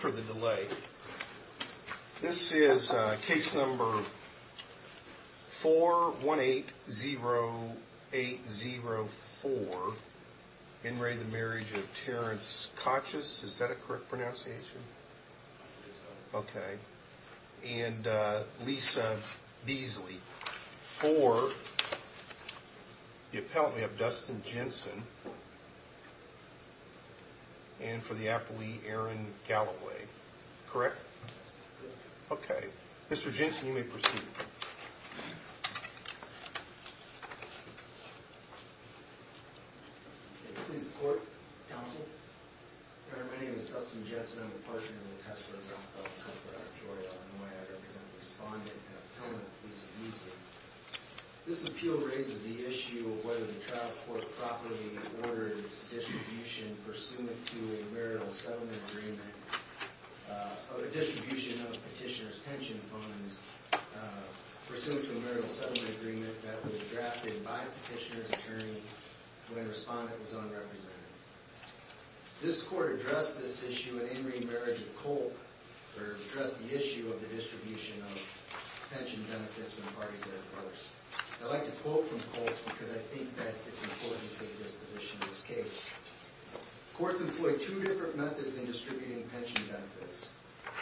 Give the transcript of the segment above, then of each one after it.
for the delay. This is case number 4180804. In re Marriage of Terrence Kochis. Is that a correct pronunciation? Okay. And Lisa Beasley. For the appellant we have Dustin Jensen. And for the appellee, Aaron Galloway. Correct? Okay. Mr. Jensen, you may proceed. Please report, counsel. My name is Dustin Jensen. I'm a partner in the test for example for Georgia Illinois. I represent a respondent and appellant, Lisa Beasley. This appeal raises the issue of whether the trial court properly ordered distribution pursuant to a marital settlement agreement. Of a distribution of petitioner's pension funds pursuant to a marital settlement agreement that was drafted by a petitioner's attorney when a respondent was unrepresented. This court addressed this issue in in re Marriage of Kolk, or addressed the issue of the distribution of pension benefits when parties had a divorce. I'd like to quote from Kolk because I think that it's important to take this position in this case. Courts employ two different methods in distributing pension benefits.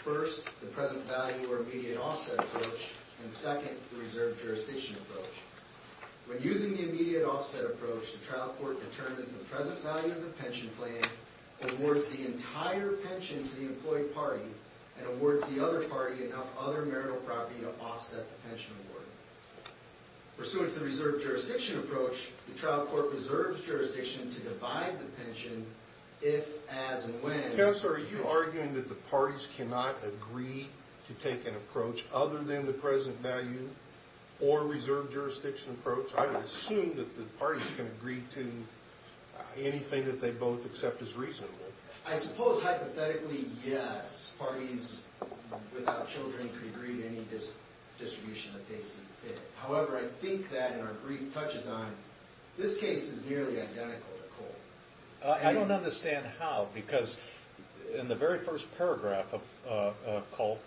First, the present value or immediate offset approach. And second, the reserved jurisdiction approach. When using the immediate offset approach, the trial court determines the present value of the pension plan, awards the entire pension to the employed party, and awards the other party enough other marital property to offset the pension award. Pursuant to the reserved jurisdiction approach, the trial court reserves jurisdiction to divide the pension if, as, and when. Counselor, are you arguing that the parties cannot agree to take an approach other than the present value or reserved jurisdiction approach? I would assume that the parties can agree to anything that they both accept as reasonable. I suppose, hypothetically, yes. Parties without children can agree to any distribution that they see fit. However, I think that, and our brief touches on, this case is nearly identical to Kolk. I don't understand how, because in the very first paragraph of Kolk,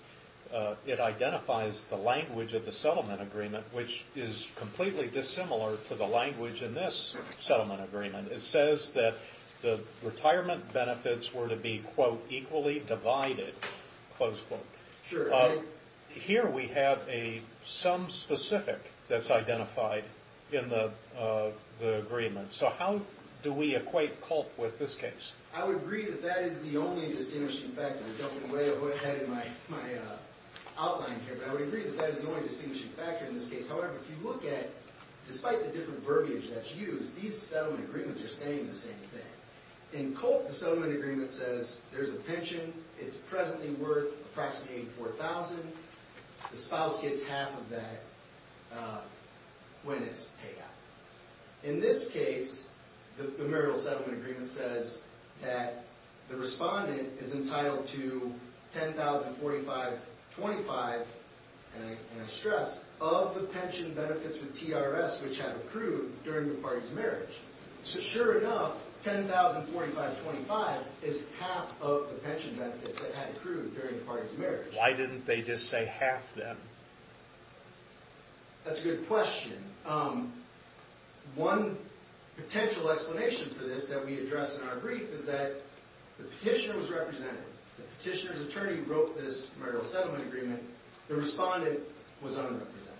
it identifies the language of the settlement agreement, which is completely dissimilar to the language in this settlement agreement. It says that the retirement benefits were to be, quote, equally divided, close quote. Here we have some specific that's identified in the agreement. So how do we equate Kolk with this case? I would agree that that is the only distinguishing factor. I'm jumping away ahead in my outline here, but I would agree that that is the only distinguishing factor in this case. However, if you look at, despite the different verbiage that's used, these settlement agreements are saying the same thing. In Kolk, the settlement agreement says there's a pension. It's presently worth approximately $4,000. The spouse gets half of that when it's paid out. In this case, the marital settlement agreement says that the respondent is entitled to $10,045.25, and I stress, of the pension benefits with TRS, which have accrued during the party's marriage. So sure enough, $10,045.25 is half of the pension benefits that had accrued during the party's marriage. Why didn't they just say half then? That's a good question. One potential explanation for this that we address in our brief is that the petitioner was represented. The petitioner's attorney wrote this marital settlement agreement. The respondent was unrepresented.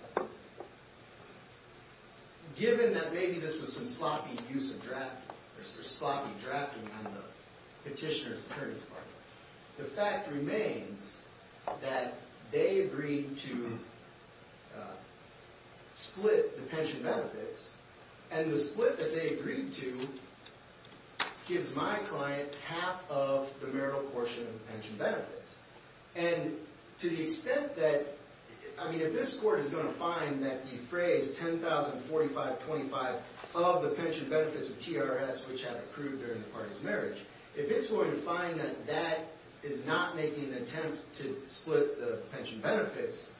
Given that maybe this was some sloppy drafting on the petitioner's attorney's part, the fact remains that they agreed to split the pension benefits, and the split that they agreed to gives my client half of the marital portion of the pension benefits. To the extent that, I mean, if this court is going to find that the phrase $10,045.25 of the pension benefits of TRS, which have accrued during the party's marriage, if it's going to find that that is not making an attempt to split the pension benefits,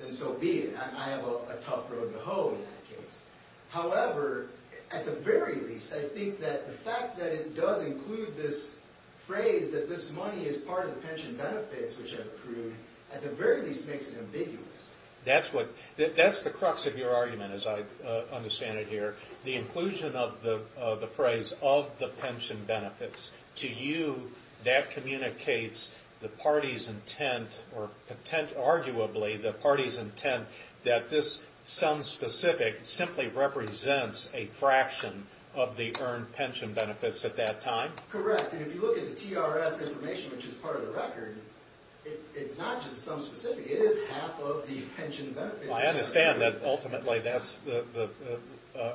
then so be it. I have a tough road to hoe in that case. However, at the very least, I think that the fact that it does include this phrase that this money is part of the pension benefits, which have accrued, at the very least makes it ambiguous. That's the crux of your argument, as I understand it here. The inclusion of the phrase of the pension benefits. To you, that communicates the party's intent, or arguably the party's intent, that this sum specific simply represents a fraction of the earned pension benefits at that time? Correct. And if you look at the TRS information, which is part of the record, it's not just the sum specific. It is half of the pension benefits. I understand that ultimately that's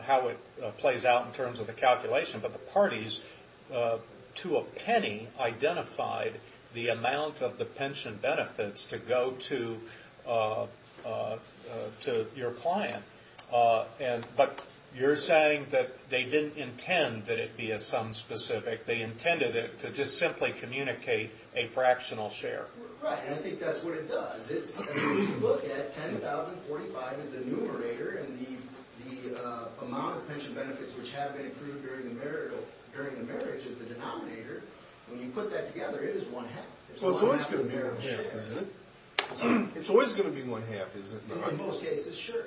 how it plays out in terms of the calculation. But the parties, to a penny, identified the amount of the pension benefits to go to your client. But you're saying that they didn't intend that it be a sum specific. They intended it to just simply communicate a fractional share. Right. And I think that's what it does. If you look at 10,045 as the numerator, and the amount of pension benefits which have been accrued during the marriage as the denominator, when you put that together, it is one half. It's always going to be one half, isn't it? It's always going to be one half, isn't it? In most cases, sure.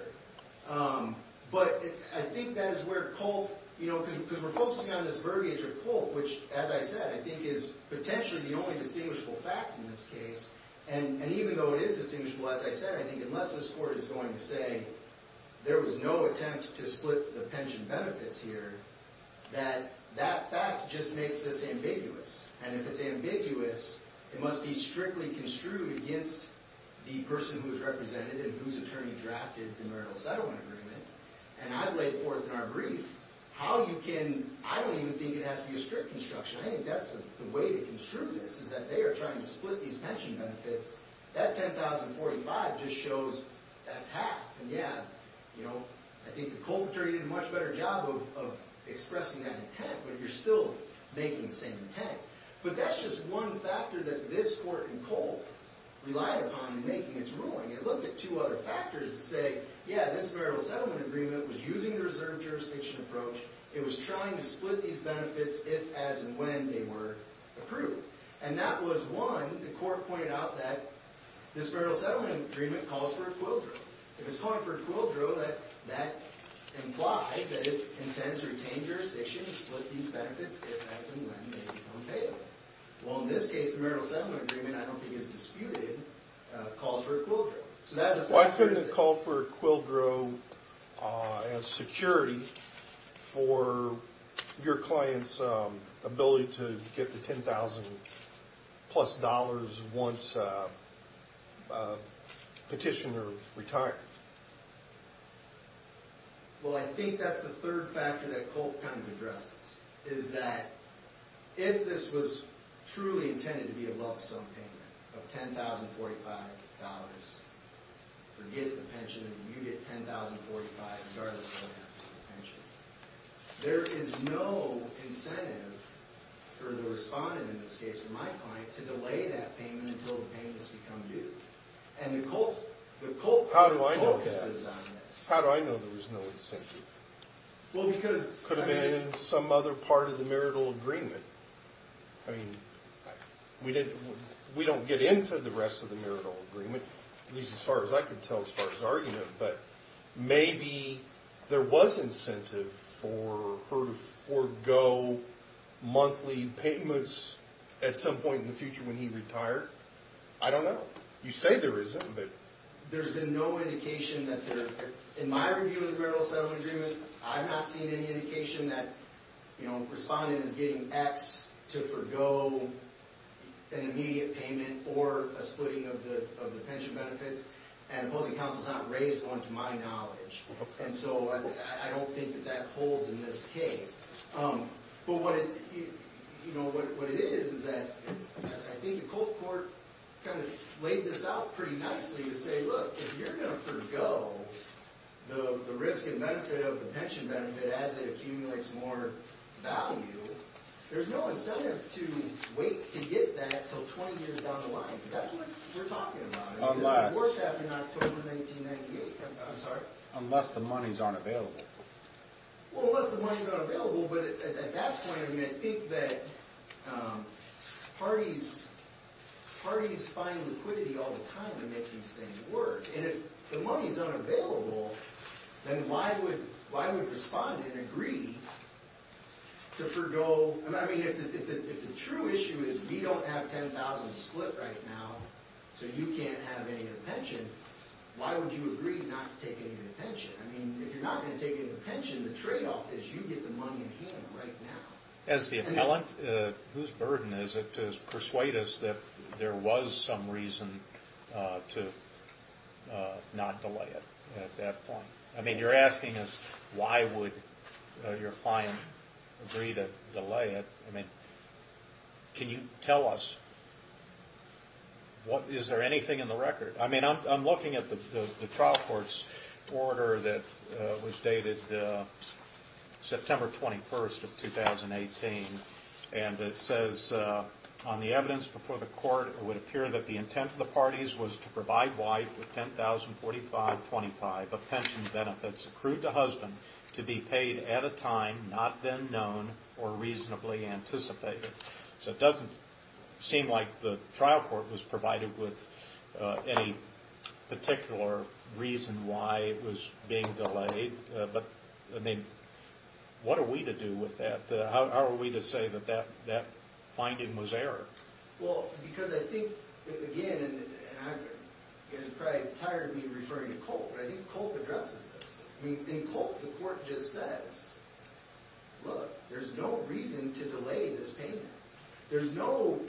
But I think that is where Culp, because we're focusing on this verbiage of Culp, which, as I said, I think is potentially the only distinguishable fact in this case. And even though it is distinguishable, as I said, I think unless this court is going to say there was no attempt to split the pension benefits here, that that fact just makes this ambiguous. And if it's ambiguous, it must be strictly construed against the person who is represented and whose attorney drafted the marital settlement agreement. And I've laid forth in our brief how you can – I don't even think it has to be a strict construction. I think that's the way to construe this, is that they are trying to split these pension benefits. That 10,045 just shows that's half. And, yeah, you know, I think the Culp attorney did a much better job of expressing that intent, but you're still making the same intent. But that's just one factor that this court in Culp relied upon in making its ruling. It looked at two other factors to say, yeah, this marital settlement agreement was using the reserve jurisdiction approach. It was trying to split these benefits if, as, and when they were approved. And that was, one, the court pointed out that this marital settlement agreement calls for a quill drift. If it's calling for a quill drift, that implies that it intends to retain jurisdiction and split these benefits if, as, and when they become payable. Well, in this case, the marital settlement agreement, I don't think it's disputed, calls for a quill drift. All right. Well, I think that's the third factor that Culp kind of addresses, is that if this was truly intended to be a lump sum payment of $10,045, forget the pension, and you get $10,045 regardless of what happens to the pension, there is no incentive for the respondent, in this case, my client, to delay that payment until the payment has become due. And the court focuses on this. How do I know there was no incentive? Well, because... Could have been in some other part of the marital agreement. I mean, we don't get into the rest of the marital agreement, at least as far as I can tell as far as argument, but maybe there was incentive for her to forego monthly payments at some point in the future when he retired. I don't know. You say there isn't, but... There's been no indication that there... In my review of the marital settlement agreement, I've not seen any indication that, you know, a respondent is getting X to forego an immediate payment or a splitting of the pension benefits, and opposing counsel has not raised one to my knowledge. And so I don't think that that holds in this case. But what it is is that I think the cold court kind of laid this out pretty nicely to say, look, if you're going to forego the risk and benefit of the pension benefit as it accumulates more value, there's no incentive to wait to get that until 20 years down the line. That's what we're talking about. Unless... It's worse after October 1998. I'm sorry? Unless the money's unavailable. Well, unless the money's unavailable, but at that point, I think that parties find liquidity all the time to make these things work. And if the money's unavailable, then why would a respondent agree to forego... I mean, if the true issue is we don't have $10,000 split right now, so you can't have any of the pension, why would you agree not to take any of the pension? I mean, if you're not going to take any of the pension, the tradeoff is you get the money in hand right now. As the appellant, whose burden is it to persuade us that there was some reason to not delay it at that point? I mean, you're asking us why would your client agree to delay it. I mean, can you tell us, is there anything in the record? I mean, I'm looking at the trial court's order that was dated September 21st of 2018, and it says on the evidence before the court, it would appear that the intent of the parties was to provide wife with $10,045.25 of pension benefits accrued to husband to be paid at a time not then known or reasonably anticipated. So it doesn't seem like the trial court was provided with any particular reason why it was being delayed. But, I mean, what are we to do with that? How are we to say that that finding was error? Well, because I think, again, you're probably tired of me referring to Colt, but I think Colt addresses this. I mean, in Colt, the court just says, look, there's no reason to delay this payment. There's no,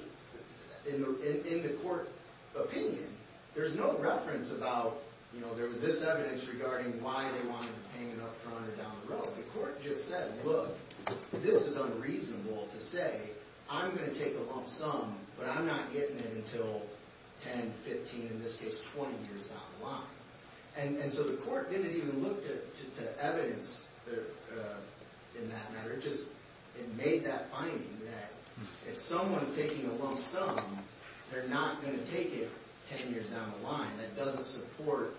in the court opinion, there's no reference about, you know, there was this evidence regarding why they wanted the payment up front or down the road. The court just said, look, this is unreasonable to say I'm going to take a lump sum, but I'm not getting it until 10, 15, in this case, 20 years down the line. And so the court didn't even look to evidence in that matter. It just made that finding that if someone's taking a lump sum, they're not going to take it 10 years down the line. That doesn't support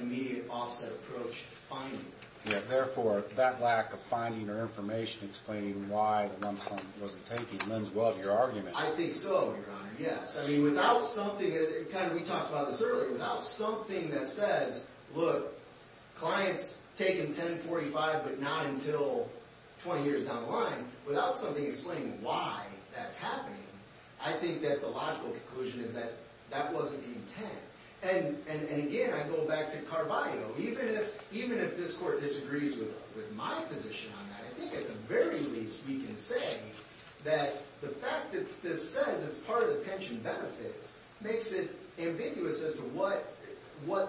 immediate offset approach finding. Yeah, therefore, that lack of finding or information explaining why the lump sum wasn't taken lends well to your argument. I think so, Your Honor, yes. I mean, without something that, kind of we talked about this earlier, without something that says, look, clients taking 10, 45, but not until 20 years down the line, without something explaining why that's happening, I think that the logical conclusion is that that wasn't the intent. And again, I go back to Carballo. Even if this court disagrees with my position on that, I think at the very least we can say that the fact that this says it's part of the pension benefits makes it ambiguous as to what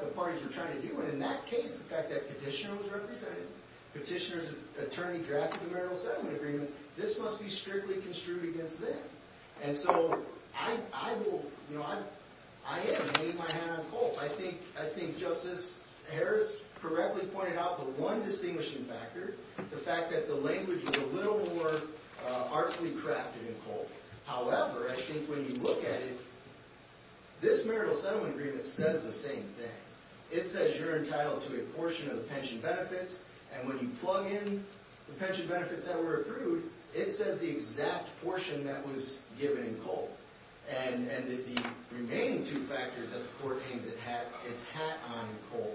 the parties were trying to do. And in that case, the fact that Petitioner was represented, Petitioner's attorney drafted the marital settlement agreement, this must be strictly construed against them. And so I have made my hand on coal. I think Justice Harris correctly pointed out the one distinguishing factor, the fact that the language was a little more artfully crafted in coal. However, I think when you look at it, this marital settlement agreement says the same thing. It says you're entitled to a portion of the pension benefits. And when you plug in the pension benefits that were approved, it says the exact portion that was given in coal. And the remaining two factors that the court thinks it's had on coal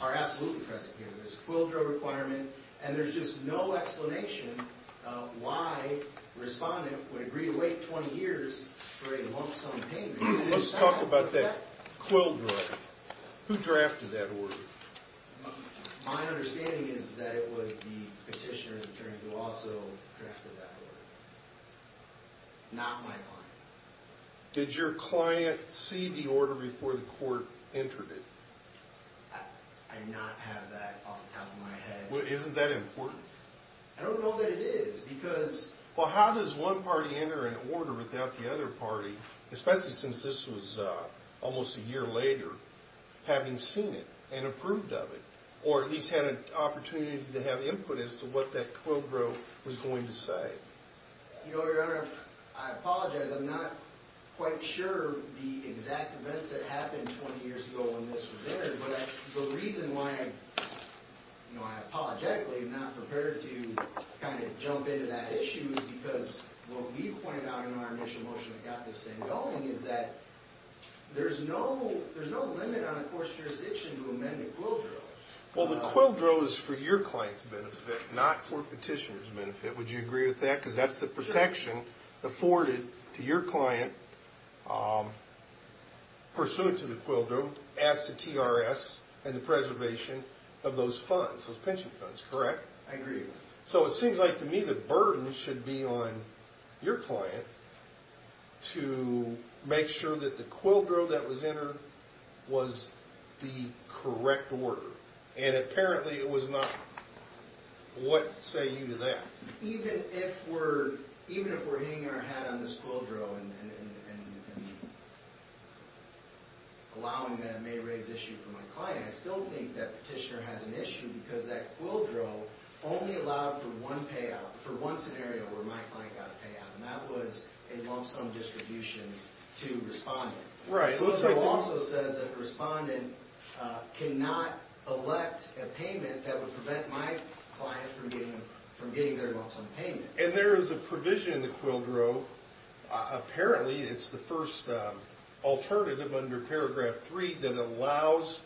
are absolutely pressing here. There's a quill drug requirement, and there's just no explanation why the respondent would agree to wait 20 years for a lump sum payment. Let's talk about that quill drug. Who drafted that order? My understanding is that it was the Petitioner's attorney who also drafted that order. Not my client. Did your client see the order before the court entered it? I do not have that off the top of my head. Well, isn't that important? I don't know that it is because— Well, how does one party enter an order without the other party, especially since this was almost a year later, having seen it and approved of it or at least had an opportunity to have input as to what that quill drug was going to say? Your Honor, I apologize. I'm not quite sure the exact events that happened 20 years ago when this was entered, but the reason why I apologetically am not prepared to kind of jump into that issue is because what we've pointed out in our initial motion that got this thing going is that there's no limit on a court's jurisdiction to amend a quill drug. Well, the quill drug is for your client's benefit, not for Petitioner's benefit. Would you agree with that? Because that's the protection afforded to your client pursuant to the quill drug as to TRS and the preservation of those funds, those pension funds, correct? I agree with that. So it seems like to me the burden should be on your client to make sure that the quill drug that was entered was the correct order. And apparently it was not. What say you to that? Even if we're hitting our head on this quill drug and allowing that may raise issue for my client, I still think that Petitioner has an issue because that quill drug only allowed for one scenario where my client got a payout, and that was a lump sum distribution to Respondent. Right. It also says that Respondent cannot elect a payment that would prevent my client from getting their lump sum payment. And there is a provision in the quill drug, apparently it's the first alternative under paragraph 3 that allows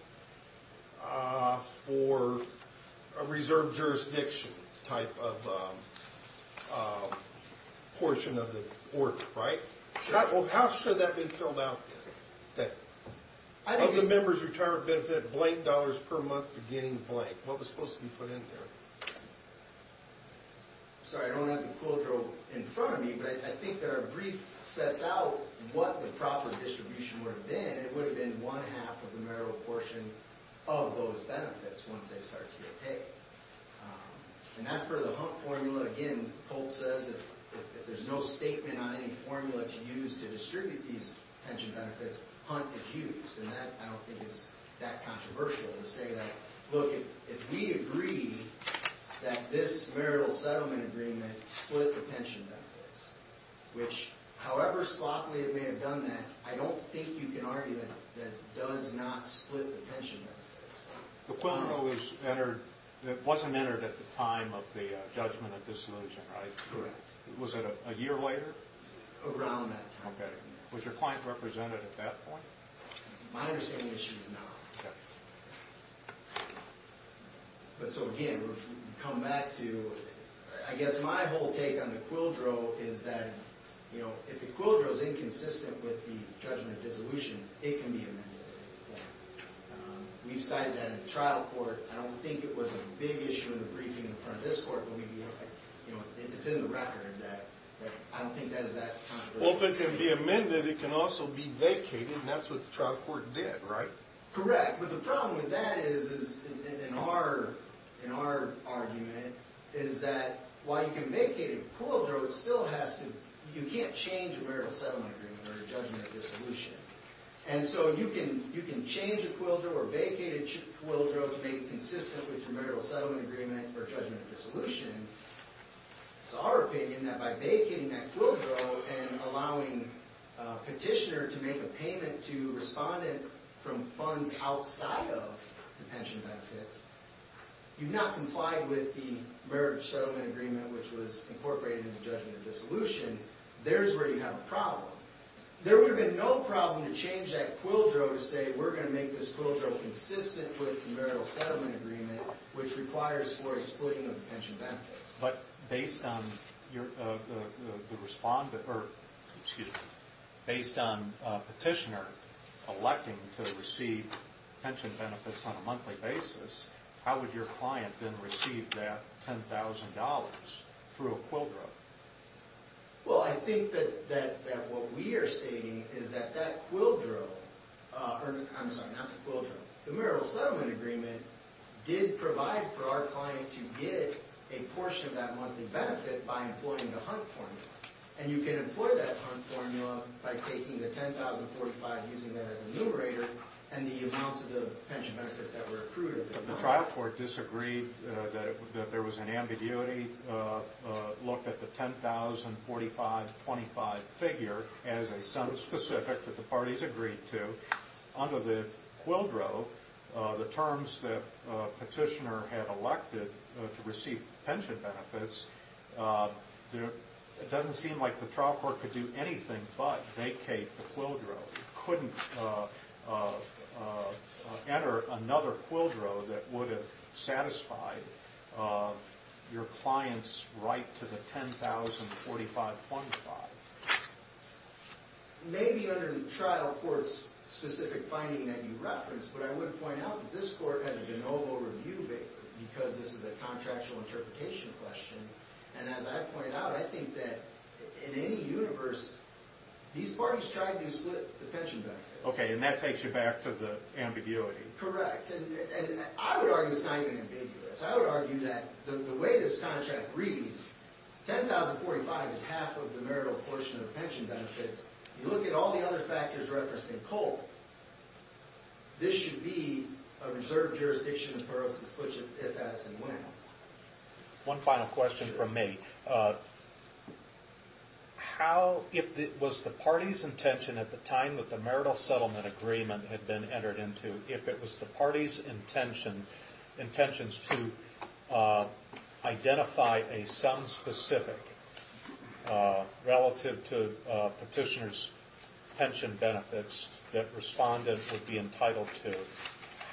for a reserve jurisdiction type of portion of the work, right? Well, how should that be filled out then? Of the members' retirement benefit, blank dollars per month beginning blank. What was supposed to be put in there? Sorry, I don't have the quill drug in front of me, but I think that our brief sets out what the proper distribution would have been. It would have been one half of the marital portion of those benefits once they start to get paid. And as per the HUNT formula, again, if there's no statement on any formula to use to distribute these pension benefits, HUNT is used. And I don't think it's that controversial to say that, look, if we agree that this marital settlement agreement split the pension benefits, which however sloppily it may have done that, I don't think you can argue that it does not split the pension benefits. The quill drug wasn't entered at the time of the judgment of dissolution, right? Correct. Was it a year later? Around that time. Okay. Was your client represented at that point? My understanding is she was not. Okay. So again, we come back to, I guess my whole take on the quill drug is that if the quill drug is inconsistent with the judgment of dissolution, it can be amended. Yeah. We've cited that in the trial court. I don't think it was a big issue in the briefing in front of this court, but it's in the record that I don't think that is that controversial to say. Well, if it can be amended, it can also be vacated, and that's what the trial court did, right? Correct. But the problem with that is, in our argument, is that while you can vacate a quill drug, you can't change a marital settlement agreement or a judgment of dissolution. And so you can change a quill drug or vacate a quill drug to make it consistent with your marital settlement agreement or judgment of dissolution. It's our opinion that by vacating that quill drug and allowing a petitioner to make a payment to a respondent from funds outside of the pension benefits, you've not complied with the marital settlement agreement which was incorporated in the judgment of dissolution. There's where you have a problem. There would have been no problem to change that quill drug to say we're going to make this quill drug consistent with the marital settlement agreement which requires for a splitting of the pension benefits. But based on the respondent or, excuse me, based on a petitioner electing to receive pension benefits on a monthly basis, how would your client then receive that $10,000 through a quill drug? Well, I think that what we are stating is that that quill drug, I'm sorry, not the quill drug, the marital settlement agreement did provide for our client to get a portion of that monthly benefit by employing the Hunt formula. And you can employ that Hunt formula by taking the $10,045, using that as a numerator, and the amounts of the pension benefits that were accrued as a number. The trial court disagreed that there was an ambiguity, looked at the $10,045.25 figure as a sum specific that the parties agreed to. Under the quill drug, the terms that the petitioner had elected to receive pension benefits, it doesn't seem like the trial court could do anything but vacate the quill drug. It couldn't enter another quill drug that would have satisfied your client's right to the $10,045.25. Maybe under the trial court's specific finding that you referenced, but I would point out that this court has a de novo review because this is a contractual interpretation question. And as I pointed out, I think that in any universe, these parties try to split the pension benefits. Okay, and that takes you back to the ambiguity. Correct. And I would argue it's not even ambiguous. I would argue that the way this contract reads, $10,045.25 is half of the marital portion of the pension benefits. You look at all the other factors referenced in Cole, this should be a reserved jurisdiction for us to switch it if, as, and when. One final question from me. How, if it was the party's intention at the time that the marital settlement agreement had been entered into, if it was the party's intention, intentions to identify a sum specific relative to petitioner's pension benefits that respondent would be entitled to,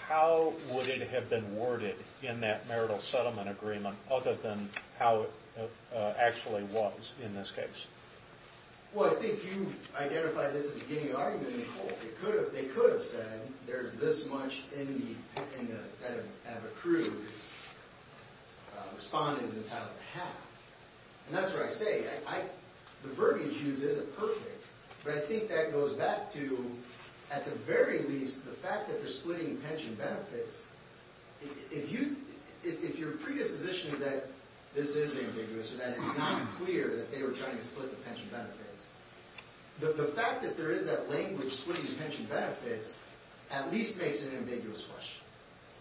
how would it have been worded in that marital settlement agreement other than how it actually was in this case? Well, I think you identified this at the beginning of the argument in Cole. They could have said there's this much in the, that have accrued, respondent is entitled to half. And that's what I say. The verbiage used isn't perfect, but I think that goes back to, at the very least, the fact that they're splitting pension benefits. If you, if your predisposition is that this is ambiguous or that it's not clear that they were trying to split the pension benefits, the fact that there is that language splitting pension benefits at least makes it an ambiguous question.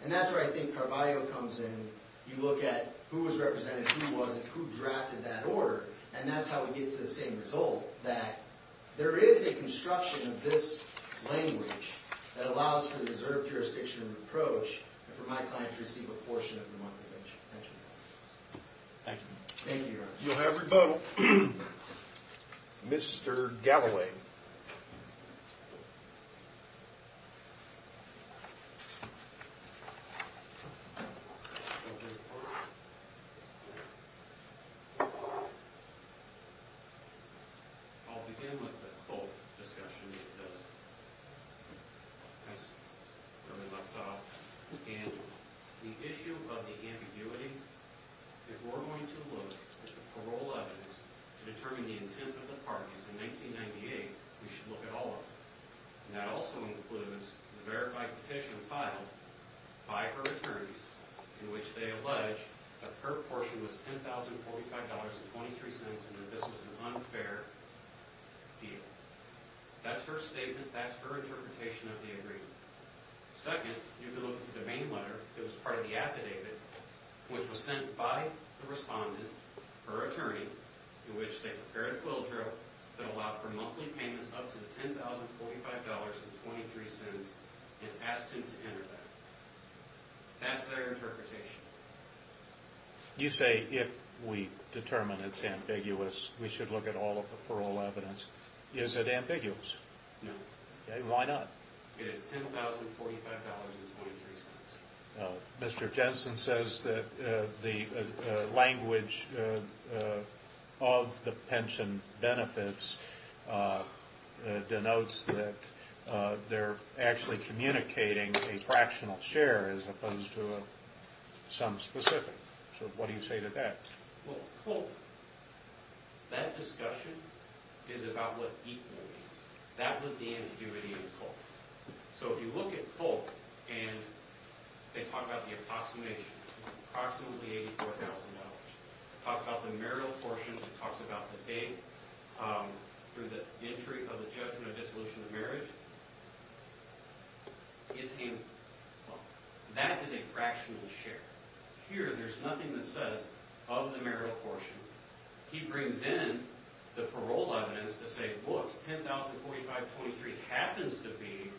And that's where I think Carballo comes in. You look at who was represented, who wasn't, who drafted that order, and that's how we get to the same result, that there is a construction of this language that allows for the reserved jurisdiction and approach for my client to receive a portion of the monthly pension benefits. Thank you. Thank you, Your Honor. You'll have rebuttal. Mr. Galloway. Thank you. I'll begin with the cult discussion it does. That's where we left off. And the issue of the ambiguity, if we're going to look at the parole evidence to determine the intent of the parties in 1998, we should look at all of them. And that also includes the verified petition filed by her attorneys in which they allege that her portion was $10,045.23 and that this was an unfair deal. That's her statement. That's her interpretation of the agreement. Second, you can look at the domain letter that was part of the affidavit which was sent by the respondent, her attorney, in which they prepared a quill drill that allowed for monthly payments up to $10,045.23 and asked him to enter that. That's their interpretation. You say if we determine it's ambiguous, we should look at all of the parole evidence. Is it ambiguous? No. Why not? It is $10,045.23. Mr. Jensen says that the language of the pension benefits denotes that they're actually communicating a fractional share as opposed to some specific. So what do you say to that? Well, cold. That discussion is about what equal means. That was the ambiguity of cold. So if you look at cold, and they talk about the approximation, it's approximately $84,000. It talks about the marital portion. It talks about the date through the entry of the judgment of dissolution of marriage. That is a fractional share. Here, there's nothing that says of the marital portion. He brings in the parole evidence to say, look, $10,045.23 happens to be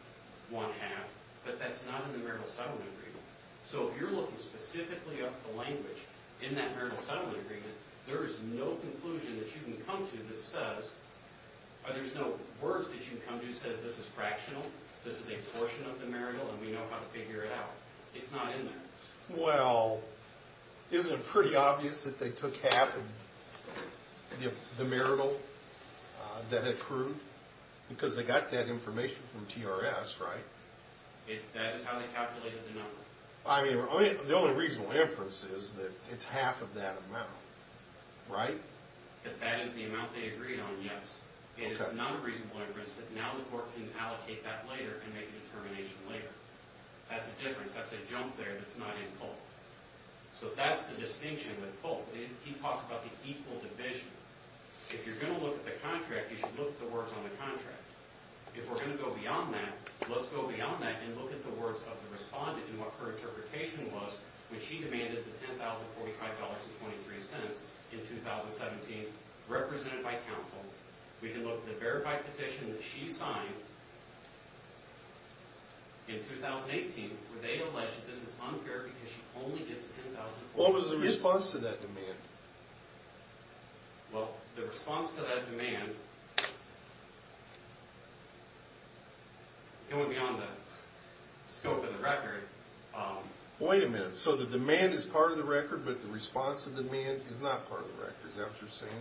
one half, but that's not in the marital settlement agreement. So if you're looking specifically at the language in that marital settlement agreement, there is no conclusion that you can come to that says, or there's no words that you can come to that says this is fractional, this is a portion of the marital, and we know how to figure it out. It's not in there. Well, isn't it pretty obvious that they took half of the marital that accrued? Because they got that information from TRS, right? That is how they calculated the number. I mean, the only reasonable inference is that it's half of that amount, right? That that is the amount they agreed on, yes. It is not a reasonable inference that now the court can allocate that later and make a determination later. That's a difference. That's a jump there that's not in cold. So that's the distinction with cold. He talks about the equal division. If you're going to look at the contract, you should look at the words on the contract. If we're going to go beyond that, let's go beyond that and look at the words of the respondent and what her interpretation was when she demanded the $10,045.23 in 2017 represented by counsel. We can look at the verified petition that she signed in 2018 where they allege that this is unfair because she only gets $10,045. What was the response to that demand? Well, the response to that demand, it wouldn't be on the scope of the record. Wait a minute. So the demand is part of the record, but the response to the demand is not part of the record. Is that what you're saying?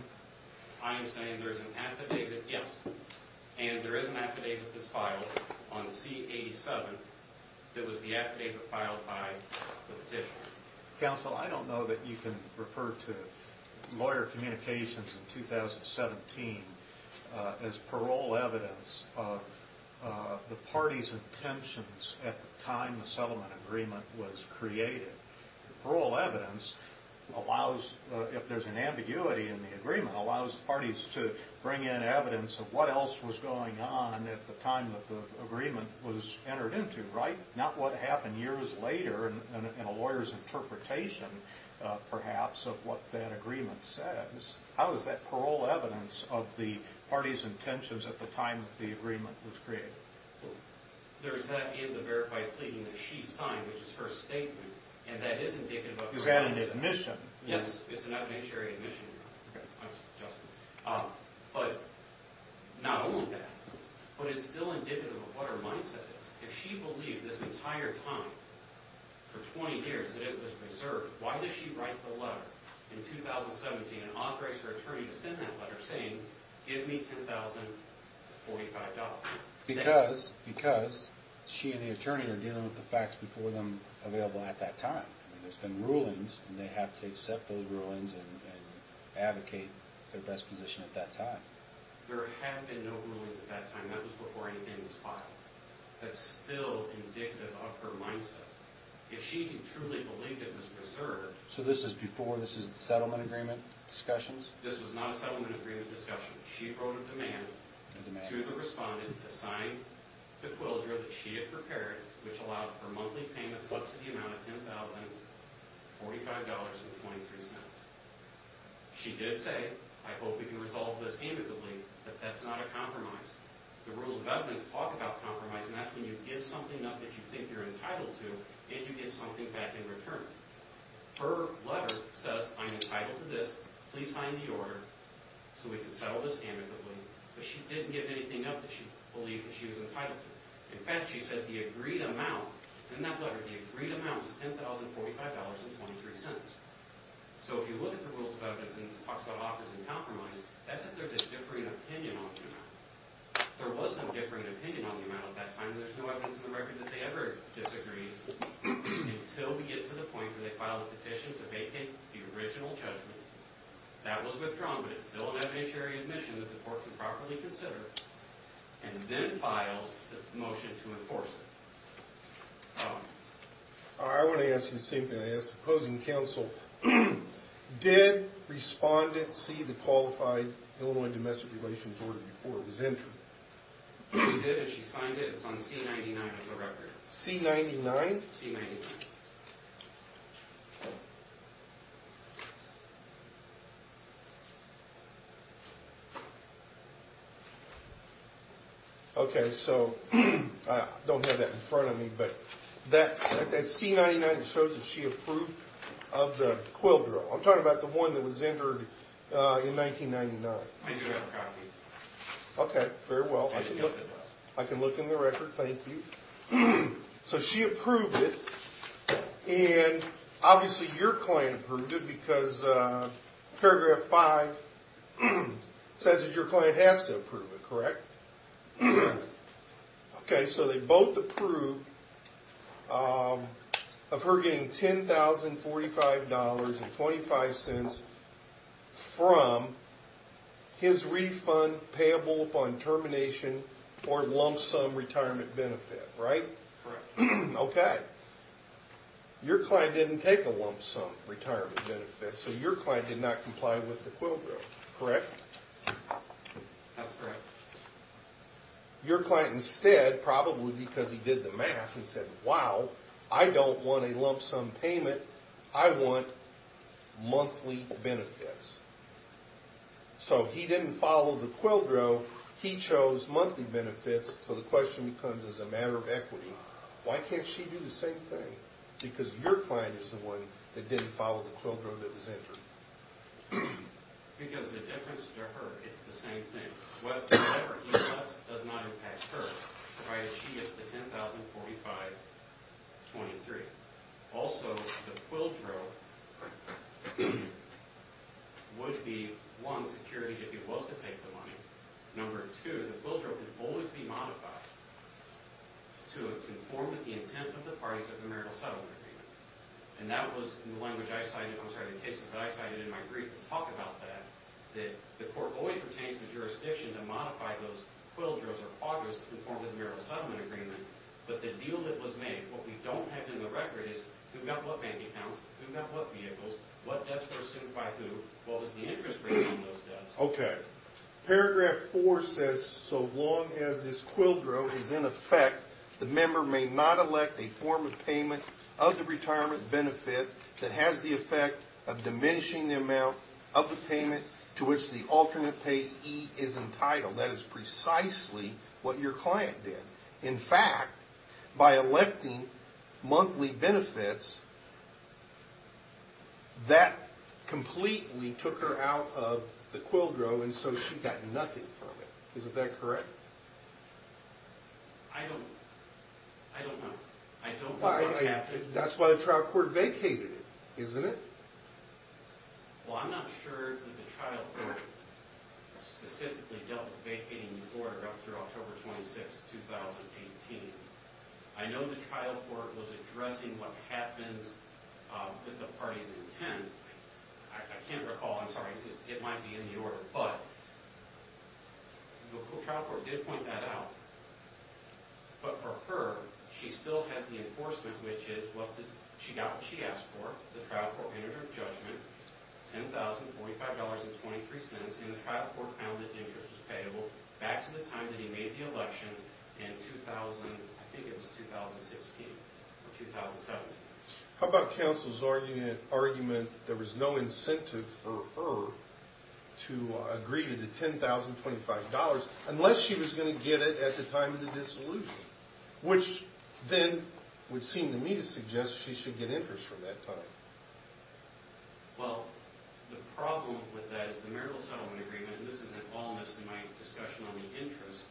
I am saying there is an affidavit, yes, and there is an affidavit that's filed on C87 that was the affidavit filed by the petitioner. Counsel, I don't know that you can refer to lawyer communications in 2017 as parole evidence of the party's intentions at the time the settlement agreement was created. Parole evidence allows, if there's an ambiguity in the agreement, allows parties to bring in evidence of what else was going on at the time that the agreement was entered into, right? Not what happened years later in a lawyer's interpretation, perhaps, of what that agreement says. How is that parole evidence of the party's intentions at the time that the agreement was created? There's that in the verified pleading that she signed, which is her statement, and that is indicative of her mindset. Is that an admission? Yes, it's an evidentiary admission, Your Honor. Okay. But not only that, but it's still indicative of what her mindset is. If she believed this entire time, for 20 years, that it was reserved, why did she write the letter in 2017 and authorize her attorney to send that letter saying, give me $10,045? Because she and the attorney are dealing with the facts before them available at that time. There's been rulings, and they have to accept those rulings and advocate their best position at that time. There have been no rulings at that time. That was before anything was filed. That's still indicative of her mindset. If she truly believed it was reserved... So this is before, this is the settlement agreement discussions? This was not a settlement agreement discussion. She wrote a demand to the respondent to sign the quildra that she had prepared, which allowed for monthly payments up to the amount of $10,045.23. She did say, I hope we can resolve this amicably, that that's not a compromise. The rules of evidence talk about compromise, and that's when you give something up that you think you're entitled to, and you give something back in return. Her letter says, I'm entitled to this. Please sign the order so we can settle this amicably. But she didn't give anything up that she believed that she was entitled to. In fact, she said the agreed amount, it's in that letter, the agreed amount was $10,045.23. So if you look at the rules of evidence and it talks about offers and compromise, that's if there's a differing opinion on the amount. There was no differing opinion on the amount at that time, and there's no evidence in the record that they ever disagreed until we get to the point where they file a petition to vacate the original judgment. That was withdrawn, but it's still an evidentiary admission that the court can properly consider, and then files the motion to enforce it. I want to ask you the same thing I asked the opposing counsel. Did respondent see the qualified Illinois domestic relations order before it was entered? She did and she signed it. It's on C-99 of the record. C-99? C-99. Okay, so I don't have that in front of me, but that C-99 shows that she approved of the quill drill. I'm talking about the one that was entered in 1999. I do have a copy. Okay, very well. I can look in the record, thank you. So she approved it, and obviously your client approved it because paragraph 5 says that your client has to approve it, correct? Okay, so they both approved of her getting $10,045.25 from his refund payable upon termination or lump sum retirement benefit, right? Correct. Okay. Your client didn't take a lump sum retirement benefit, so your client did not comply with the quill drill, correct? That's correct. Your client instead, probably because he did the math and said, wow, I don't want a lump sum payment. I want monthly benefits. So he didn't follow the quill drill. He chose monthly benefits, so the question becomes as a matter of equity, why can't she do the same thing? Because your client is the one that didn't follow the quill drill that was entered. Because the difference to her, it's the same thing. Whatever he does does not impact her, provided she gets the $10,045.23. Also, the quill drill would be, one, security if he was to take the money. Number two, the quill drill could always be modified to conform to the intent of the parties of the marital settlement agreement. And that was in the language I cited, I'm sorry, the cases that I cited in my brief talk about that, the court always retains the jurisdiction to modify those quill drills or quadras to conform to the marital settlement agreement. But the deal that was made, what we don't have in the record is who got what bank accounts, who got what vehicles, what debts were assumed by who, what was the interest rate on those debts. Okay. Paragraph four says, so long as this quill drill is in effect, the member may not elect a form of payment of the retirement benefit that has the effect of diminishing the amount of the payment to which the alternate payee is entitled. That is precisely what your client did. In fact, by electing monthly benefits, that completely took her out of the quill drill and so she got nothing from it. Is that correct? I don't know. I don't know what happened. That's why the trial court vacated it, isn't it? Well, I'm not sure that the trial court specifically dealt with vacating the order up through October 26, 2018. I know the trial court was addressing what happens with the party's intent. I can't recall. I'm sorry. It might be in the order, but the trial court did point that out. But for her, she still has the enforcement, which is she got what she asked for. The trial court entered her judgment, $10,045.23, and the trial court found that interest was payable back to the time that he made the election in 2000. I think it was 2016 or 2017. How about counsel's argument there was no incentive for her to agree to the $10,025 unless she was going to get it at the time of the dissolution, which then would seem to me to suggest she should get interest from that time. Well, the problem with that is the marital settlement agreement, and this is an allness in my discussion on the interest.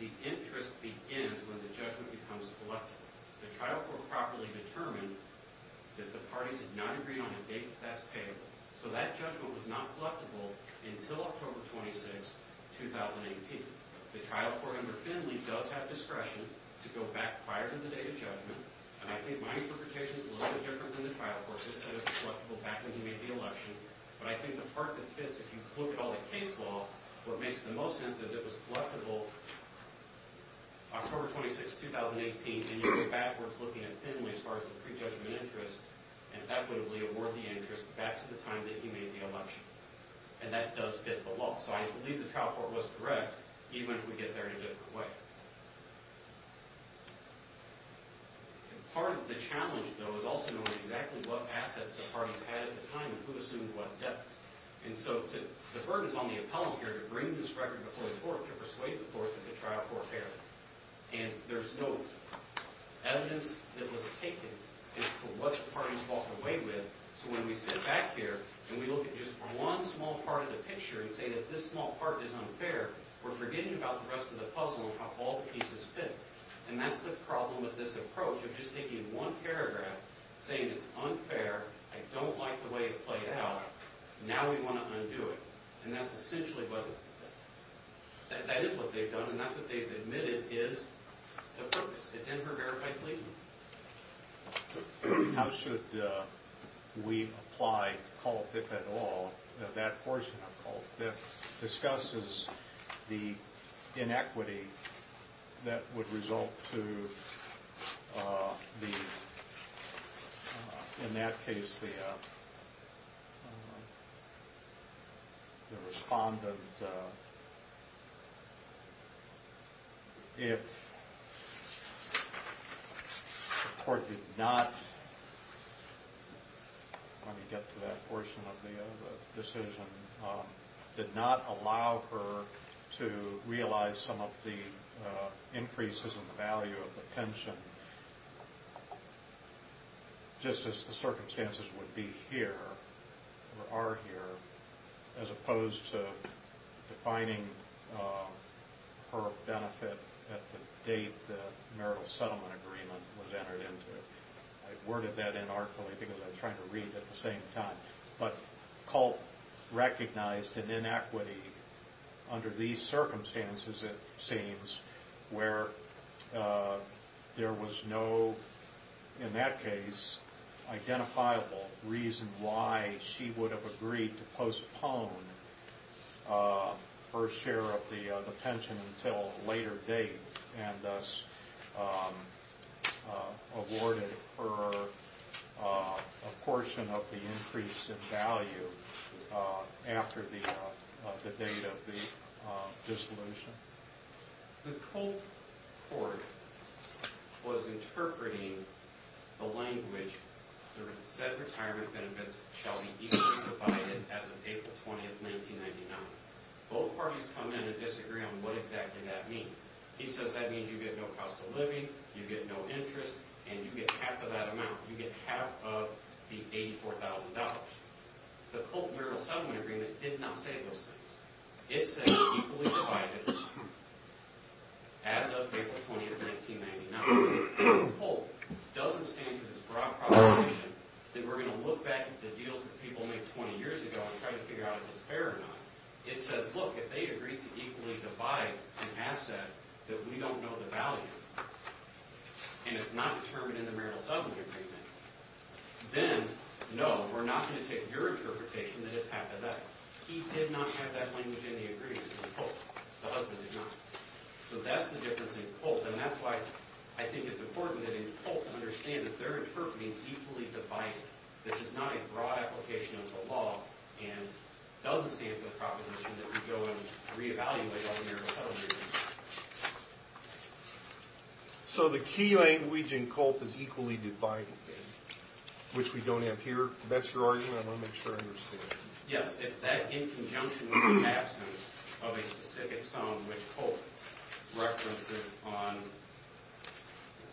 The interest begins when the judgment becomes collectible. The trial court properly determined that the parties did not agree on a date that's payable, so that judgment was not collectible until October 26, 2018. The trial court under Finley does have discretion to go back prior to the day of judgment, and I think my interpretation is a little bit different than the trial court's. It said it was collectible back when he made the election, but I think the part that fits, if you look at all the case law, what makes the most sense is it was collectible October 26, 2018, and you go backwards looking at Finley as far as the prejudgment interest and equitably award the interest back to the time that he made the election, and that does fit the law. So I believe the trial court was correct, even if we get there in a different way. Part of the challenge, though, is also knowing exactly what assets the parties had at the time and who assumed what debts, and so the burden is on the appellant here to bring this record before the court to persuade the court that the trial court failed, and there's no evidence that was taken as to what the parties walked away with, so when we sit back here and we look at just one small part of the picture and say that this small part is unfair, we're forgetting about the rest of the puzzle and how all the pieces fit, and that's the problem with this approach of just taking one paragraph saying it's unfair, I don't like the way it played out, now we want to undo it, and that's essentially what... that is what they've done, and that's what they've admitted is the purpose. It's in her verified plea. How should we apply cult if at all, that portion of cult that discusses the inequity that would result to the... in that case, the... the respondent... if... the court did not... let me get to that portion of the decision... did not allow her to realize some of the increases in the value of the pension, just as the circumstances would be here, or are here, as opposed to defining her benefit at the date the marital settlement agreement was entered into. I worded that in artfully because I was trying to read at the same time, but cult recognized an inequity under these circumstances, it seems, where there was no, in that case, identifiable reason why she would have agreed to postpone her share of the pension until a later date, and thus... awarded her a portion of the increase in value after the date of the dissolution. The cult court was interpreting the language that said retirement benefits shall be equally divided as of April 20th, 1999. Both parties come in and disagree on what exactly that means. He says that means you get no cost of living, you get no interest, and you get half of that amount, you get half of the $84,000. The cult marital settlement agreement did not say those things. It said equally divided as of April 20th, 1999. If the cult doesn't stand for this broad proposition that we're going to look back at the deals that people made 20 years ago and try to figure out if it's fair or not, it says, look, if they agreed to equally divide an asset that we don't know the value of, and it's not determined in the marital settlement agreement, then, no, we're not going to take your interpretation that it's half of that. He did not have that language in the agreement. The husband did not. So that's the difference in cult, and that's why I think it's important that in cult to understand that they're interpreting equally divided. This is not a broad application of the law and doesn't stand for the proposition that we go and re-evaluate all the marital settlement agreements. So the key language in cult is equally divided, which we don't have here? That's your argument? I want to make sure I understand. Yes, it's that in conjunction with the absence of a specific song which cult references on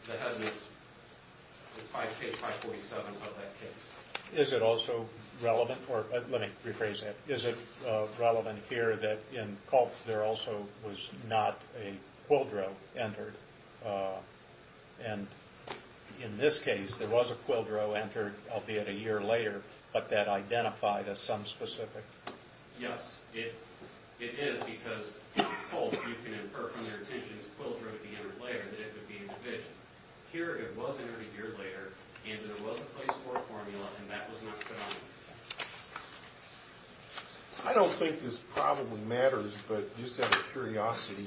the husband's, the 5K, 547 of that case. Is it also relevant, or let me rephrase that. Is it relevant here that in cult there also was not a quildro entered? And in this case, there was a quildro entered albeit a year later, but that identified as some specific... Yes, it is because in cult you can infer from your intentions quildro can enter later that it would be a division. Here it was entered a year later, and there was a place for a formula, and that was not shown. I don't think this probably matters, but just out of curiosity,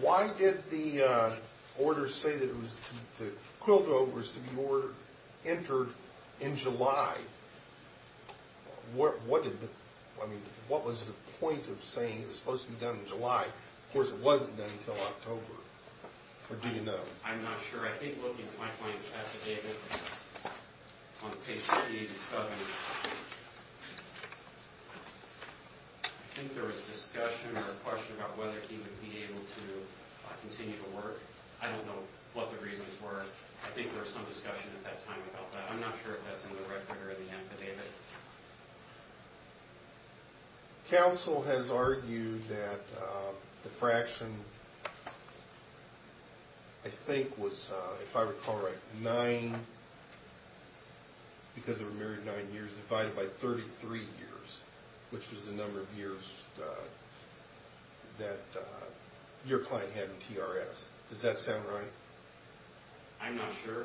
why did the order say that the quildro was to be entered in July? What was the point of saying it was supposed to be done in July? Of course, it wasn't done until October. Or do you know? I'm not sure. I think looking at my points at the data on page 387, I think there was a discussion or a question about whether he would be able to continue to work. I don't know what the reasons were. I think there was some discussion at that time about that. I'm not sure if that's in the record or the data. Counsel has argued that the fraction, I think was, if I recall right, nine, because there were nine years, divided by 33 years, which was the number of years that your client had in TRS. Does that sound right? I'm not sure.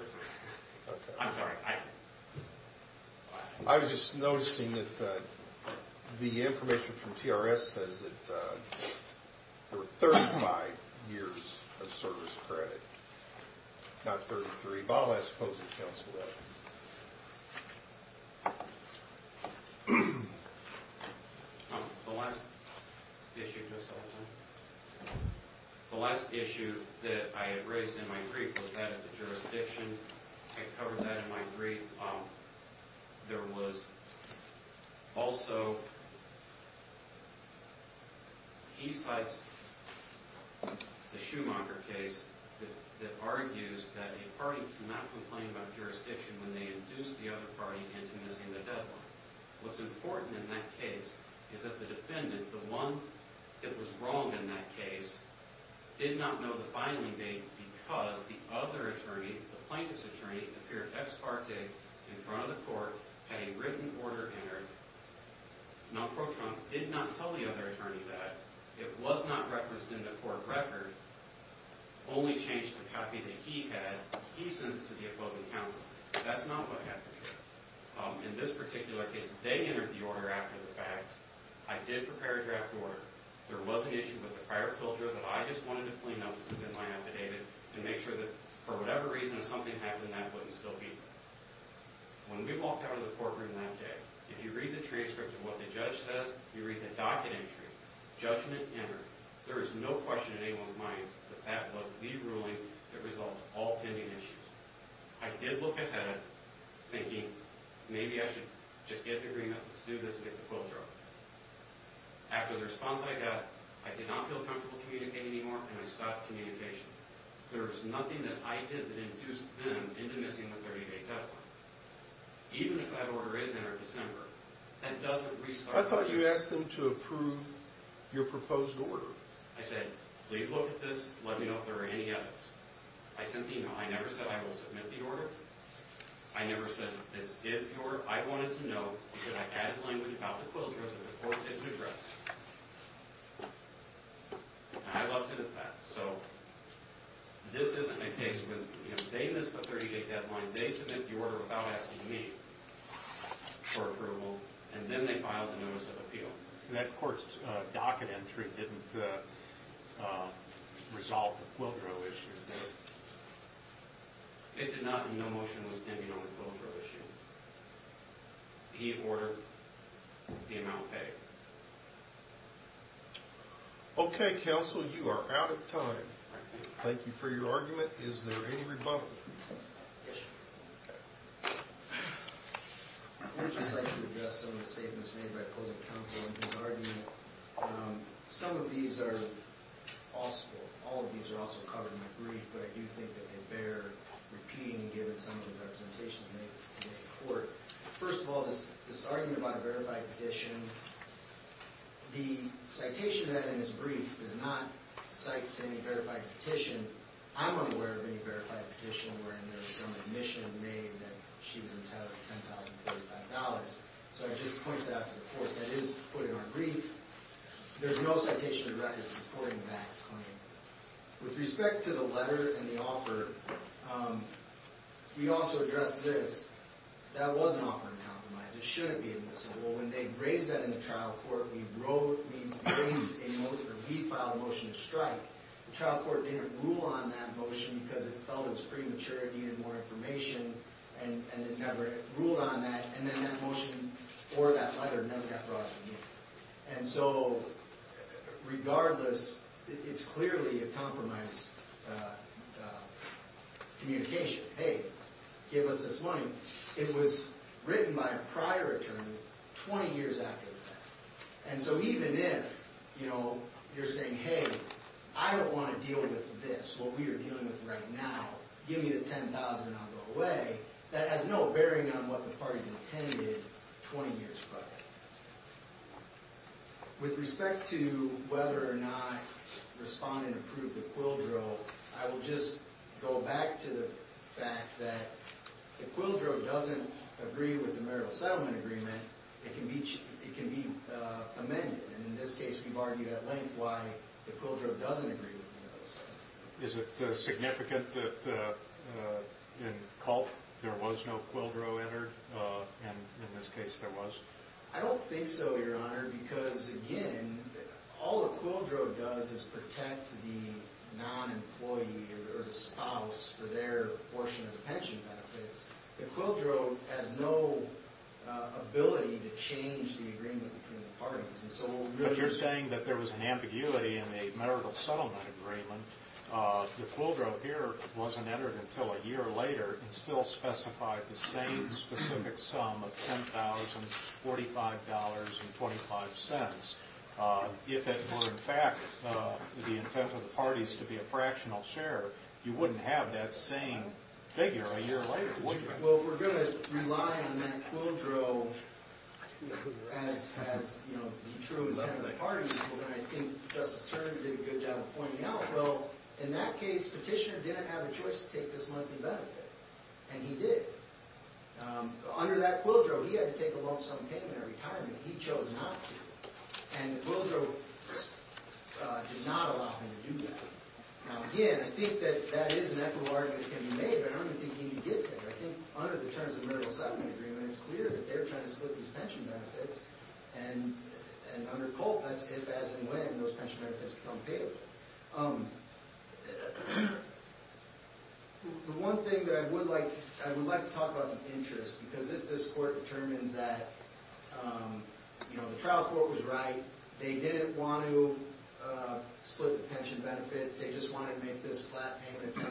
I'm sorry. I was just noticing that the information from TRS says that there were 35 years of service credit, not 33. Mr. Ebal, I suppose, would counsel that. The last issue, just hold on. The last issue that I had raised in my brief was that of the jurisdiction. I covered that in my brief. There was also, he cites the Schumacher case that argues that a party cannot complain about jurisdiction when they induce the other party into missing the deadline. What's important in that case is that the defendant, the one that was wrong in that case, did not know the filing date because the other attorney, the plaintiff's attorney, appeared ex parte in front of the court, had a written order entered. Non-Pro Trump did not tell the other attorney that. It was not referenced in the court record. Only changed the copy that he had. He sent it to the opposing counsel. That's not what happened here. In this particular case, they entered the order after the fact. I did prepare a draft order. There was an issue with the prior filter that I just wanted to clean up. This is in my affidavit. And make sure that, for whatever reason, if something happened, that wouldn't still be there. When we walked out of the courtroom that day, if you read the transcript of what the judge says, you read the docket entry. Judgment entered. There is no question in anyone's mind that that was the ruling that resolved all pending issues. I did look ahead, thinking, maybe I should just get an agreement. Let's do this and get the filter off. After the response I got, I did not feel comfortable communicating anymore, and I stopped communication. There was nothing that I did that induced them into missing the 30-day deadline. Even if that order is entered December, that doesn't restart... I thought you asked them to approve your proposed order. I said, please look at this. Let me know if there are any edits. I sent the email. I never said I will submit the order. I never said that this is the order. I wanted to know because I had the language about the filters and the court didn't address it. And I loved it, in fact. So this isn't a case where they missed the 30-day deadline, they submit the order without asking me for approval, and then they filed a notice of appeal. And that court's docket entry didn't resolve the Pilgrim issue, did it? It did not, and no motion was pending on the Pilgrim issue. He ordered the amount paid. Okay, counsel, you are out of time. Thank you for your argument. Is there any rebuttal? Yes. Okay. I would just like to address some of the statements made by opposing counsel in his argument. Some of these are also covered in the brief, but I do think that they bear repeating given some of the representations made in court. First of all, this argument about a verified petition, the citation of that in his brief does not cite any verified petition. I'm unaware of any verified petition wherein there's some admission made that she was entitled to $10,045. So I just point that to the court. That is put in our brief. There's no citation of the record supporting that claim. With respect to the letter and the offer, we also addressed this. That was an offer in compromise. It shouldn't be admissible. When they raised that in the trial court, we raised a motion, or we filed a motion to strike. The trial court didn't rule on that motion because it felt it was premature, it needed more information, and it never ruled on that. And then that motion or that letter never got brought up again. And so regardless, it's clearly a compromise communication. Hey, give us this money. It was written by a prior attorney 20 years after the fact. And so even if you're saying, hey, I don't want to deal with this, what we are dealing with right now, give me the $10,000 and I'll go away, that has no bearing on what the parties intended 20 years prior. With respect to whether or not respondent approved the quildro, I will just go back to the fact that the quildro doesn't agree with the marital settlement agreement. It can be amended. And in this case, we've argued at length why the quildro doesn't agree with the marital settlement agreement. Is it significant that in Culp there was no quildro entered? And in this case, there was? I don't think so, Your Honor, because again, all the quildro does is protect the non-employee or the spouse for their portion of the pension benefits. The quildro has no ability to change the agreement between the parties. But you're saying that there was an ambiguity in the marital settlement agreement. The quildro here wasn't entered until a year later and still specified the same specific sum of $10,000, $45, and 25 cents. If it were in fact the intent of the parties to be a fractional share, you wouldn't have that same figure a year later, would you? Well, we're going to rely on that quildro as the true intent of the parties. And I think Justice Turner did a good job of pointing out, well, in that case, Petitioner didn't have a choice to take this monthly benefit. And he did. Under that quildro, he had to take a loan-sum payment every time, and he chose not to. And the quildro did not allow him to do that. Now, again, I think that that is an equitable argument that can be made, but I don't think he did that. I think under the terms of the marital settlement agreement, it's clear that they're trying to split these pension benefits. And under Colt, that's if, as, and when those pension benefits become payable. The one thing that I would like to talk about the interest, because if this court determines that, you know, the trial court was right, they didn't want to split the pension benefits, they just wanted to make this flat payment of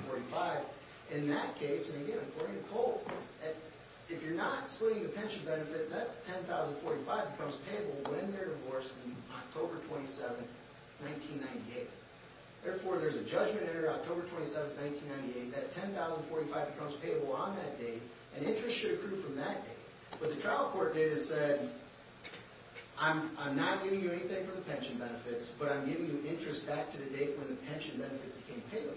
$10,045, in that case, and again, according to Colt, if you're not splitting the pension benefits, that $10,045 becomes payable when they're divorced on October 27, 1998. Therefore, there's a judgment there, October 27, 1998, that $10,045 becomes payable on that date, and interest should accrue from that date. But the trial court data said, I'm not giving you anything from the pension benefits, but I'm giving you interest back to the date when the pension benefits became payable.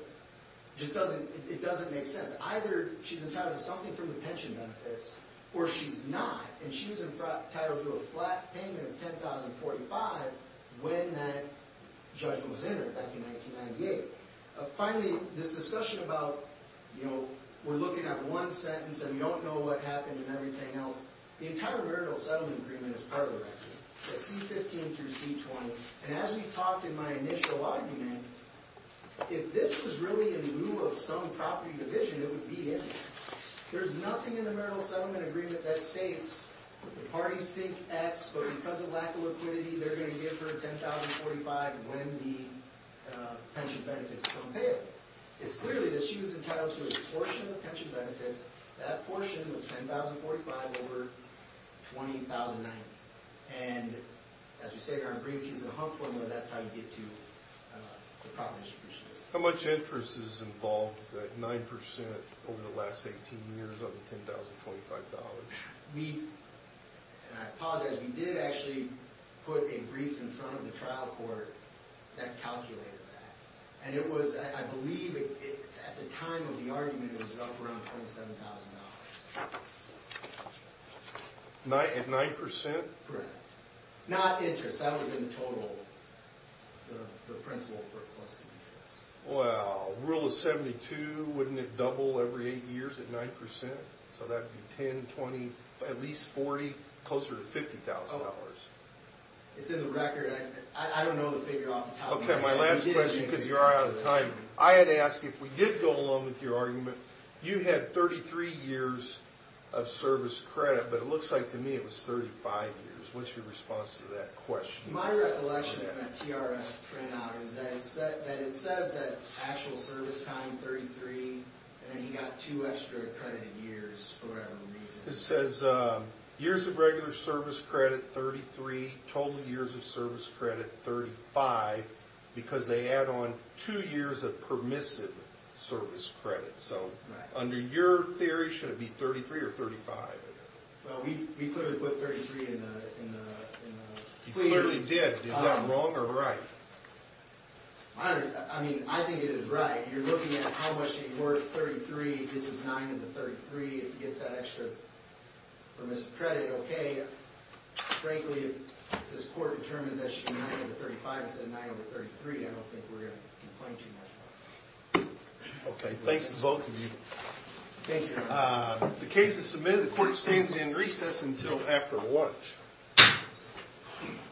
Just doesn't, it doesn't make sense. Either she's entitled to something from the pension benefits, or she's not, and she was entitled to a flat payment of $10,045 when that judgment was entered, back in 1998. Finally, this discussion about, you know, we're looking at one sentence and we don't know what happened and everything else, the entire marital settlement agreement is part of the record, the C-15 through C-20, and as we talked in my initial argument, if this was really in lieu of some property division, that would be it. There's nothing in the marital settlement agreement that states that the parties think X, but because of lack of liquidity, they're going to give her $10,045 when the pension benefits become payable. It's clearly that she was entitled to a portion of the pension benefits, that portion was $10,045 over $20,090. And as we stated in our brief, she's in a home form where that's how you get to the property distribution. How much interest is involved at 9% over the last 18 years of the $10,025? We, and I apologize, we did actually put a brief in front of the trial court that calculated that. And it was, I believe, at the time of the argument, it was up around $27,000. At 9%? Correct. Not interest, that would have been the total, the principal for it plus the interest. Well, rule of 72, wouldn't it double every eight years at 9%? So that'd be 10, 20, at least 40, closer to $50,000. It's in the record. I don't know the figure off the top of my head. Okay, my last question, because you're out of time. I had to ask you, if we did go along with your argument, you had 33 years of service credit, but it looks like to me it was 35 years. What's your response to that question? My recollection from that TRS printout is that it says that actual service time, 33, and then you got two extra accredited years for whatever reason. It says years of regular service credit, 33, total years of service credit, 35, because they add on two years of permissive service credit. So under your theory, should it be 33 or 35? Well, we clearly put 33 in the clear. You clearly did. Is that wrong or right? I mean, I think it is right. You're looking at how much you work 33. This is 9 over 33. If it gets that extra permissive credit, okay. Frankly, if this court determines that it should be 9 over 35 instead of 9 over 33, I don't think we're going to complain too much about it. Okay, thanks to both of you. Thank you. The case is submitted. The court stands in recess until after lunch.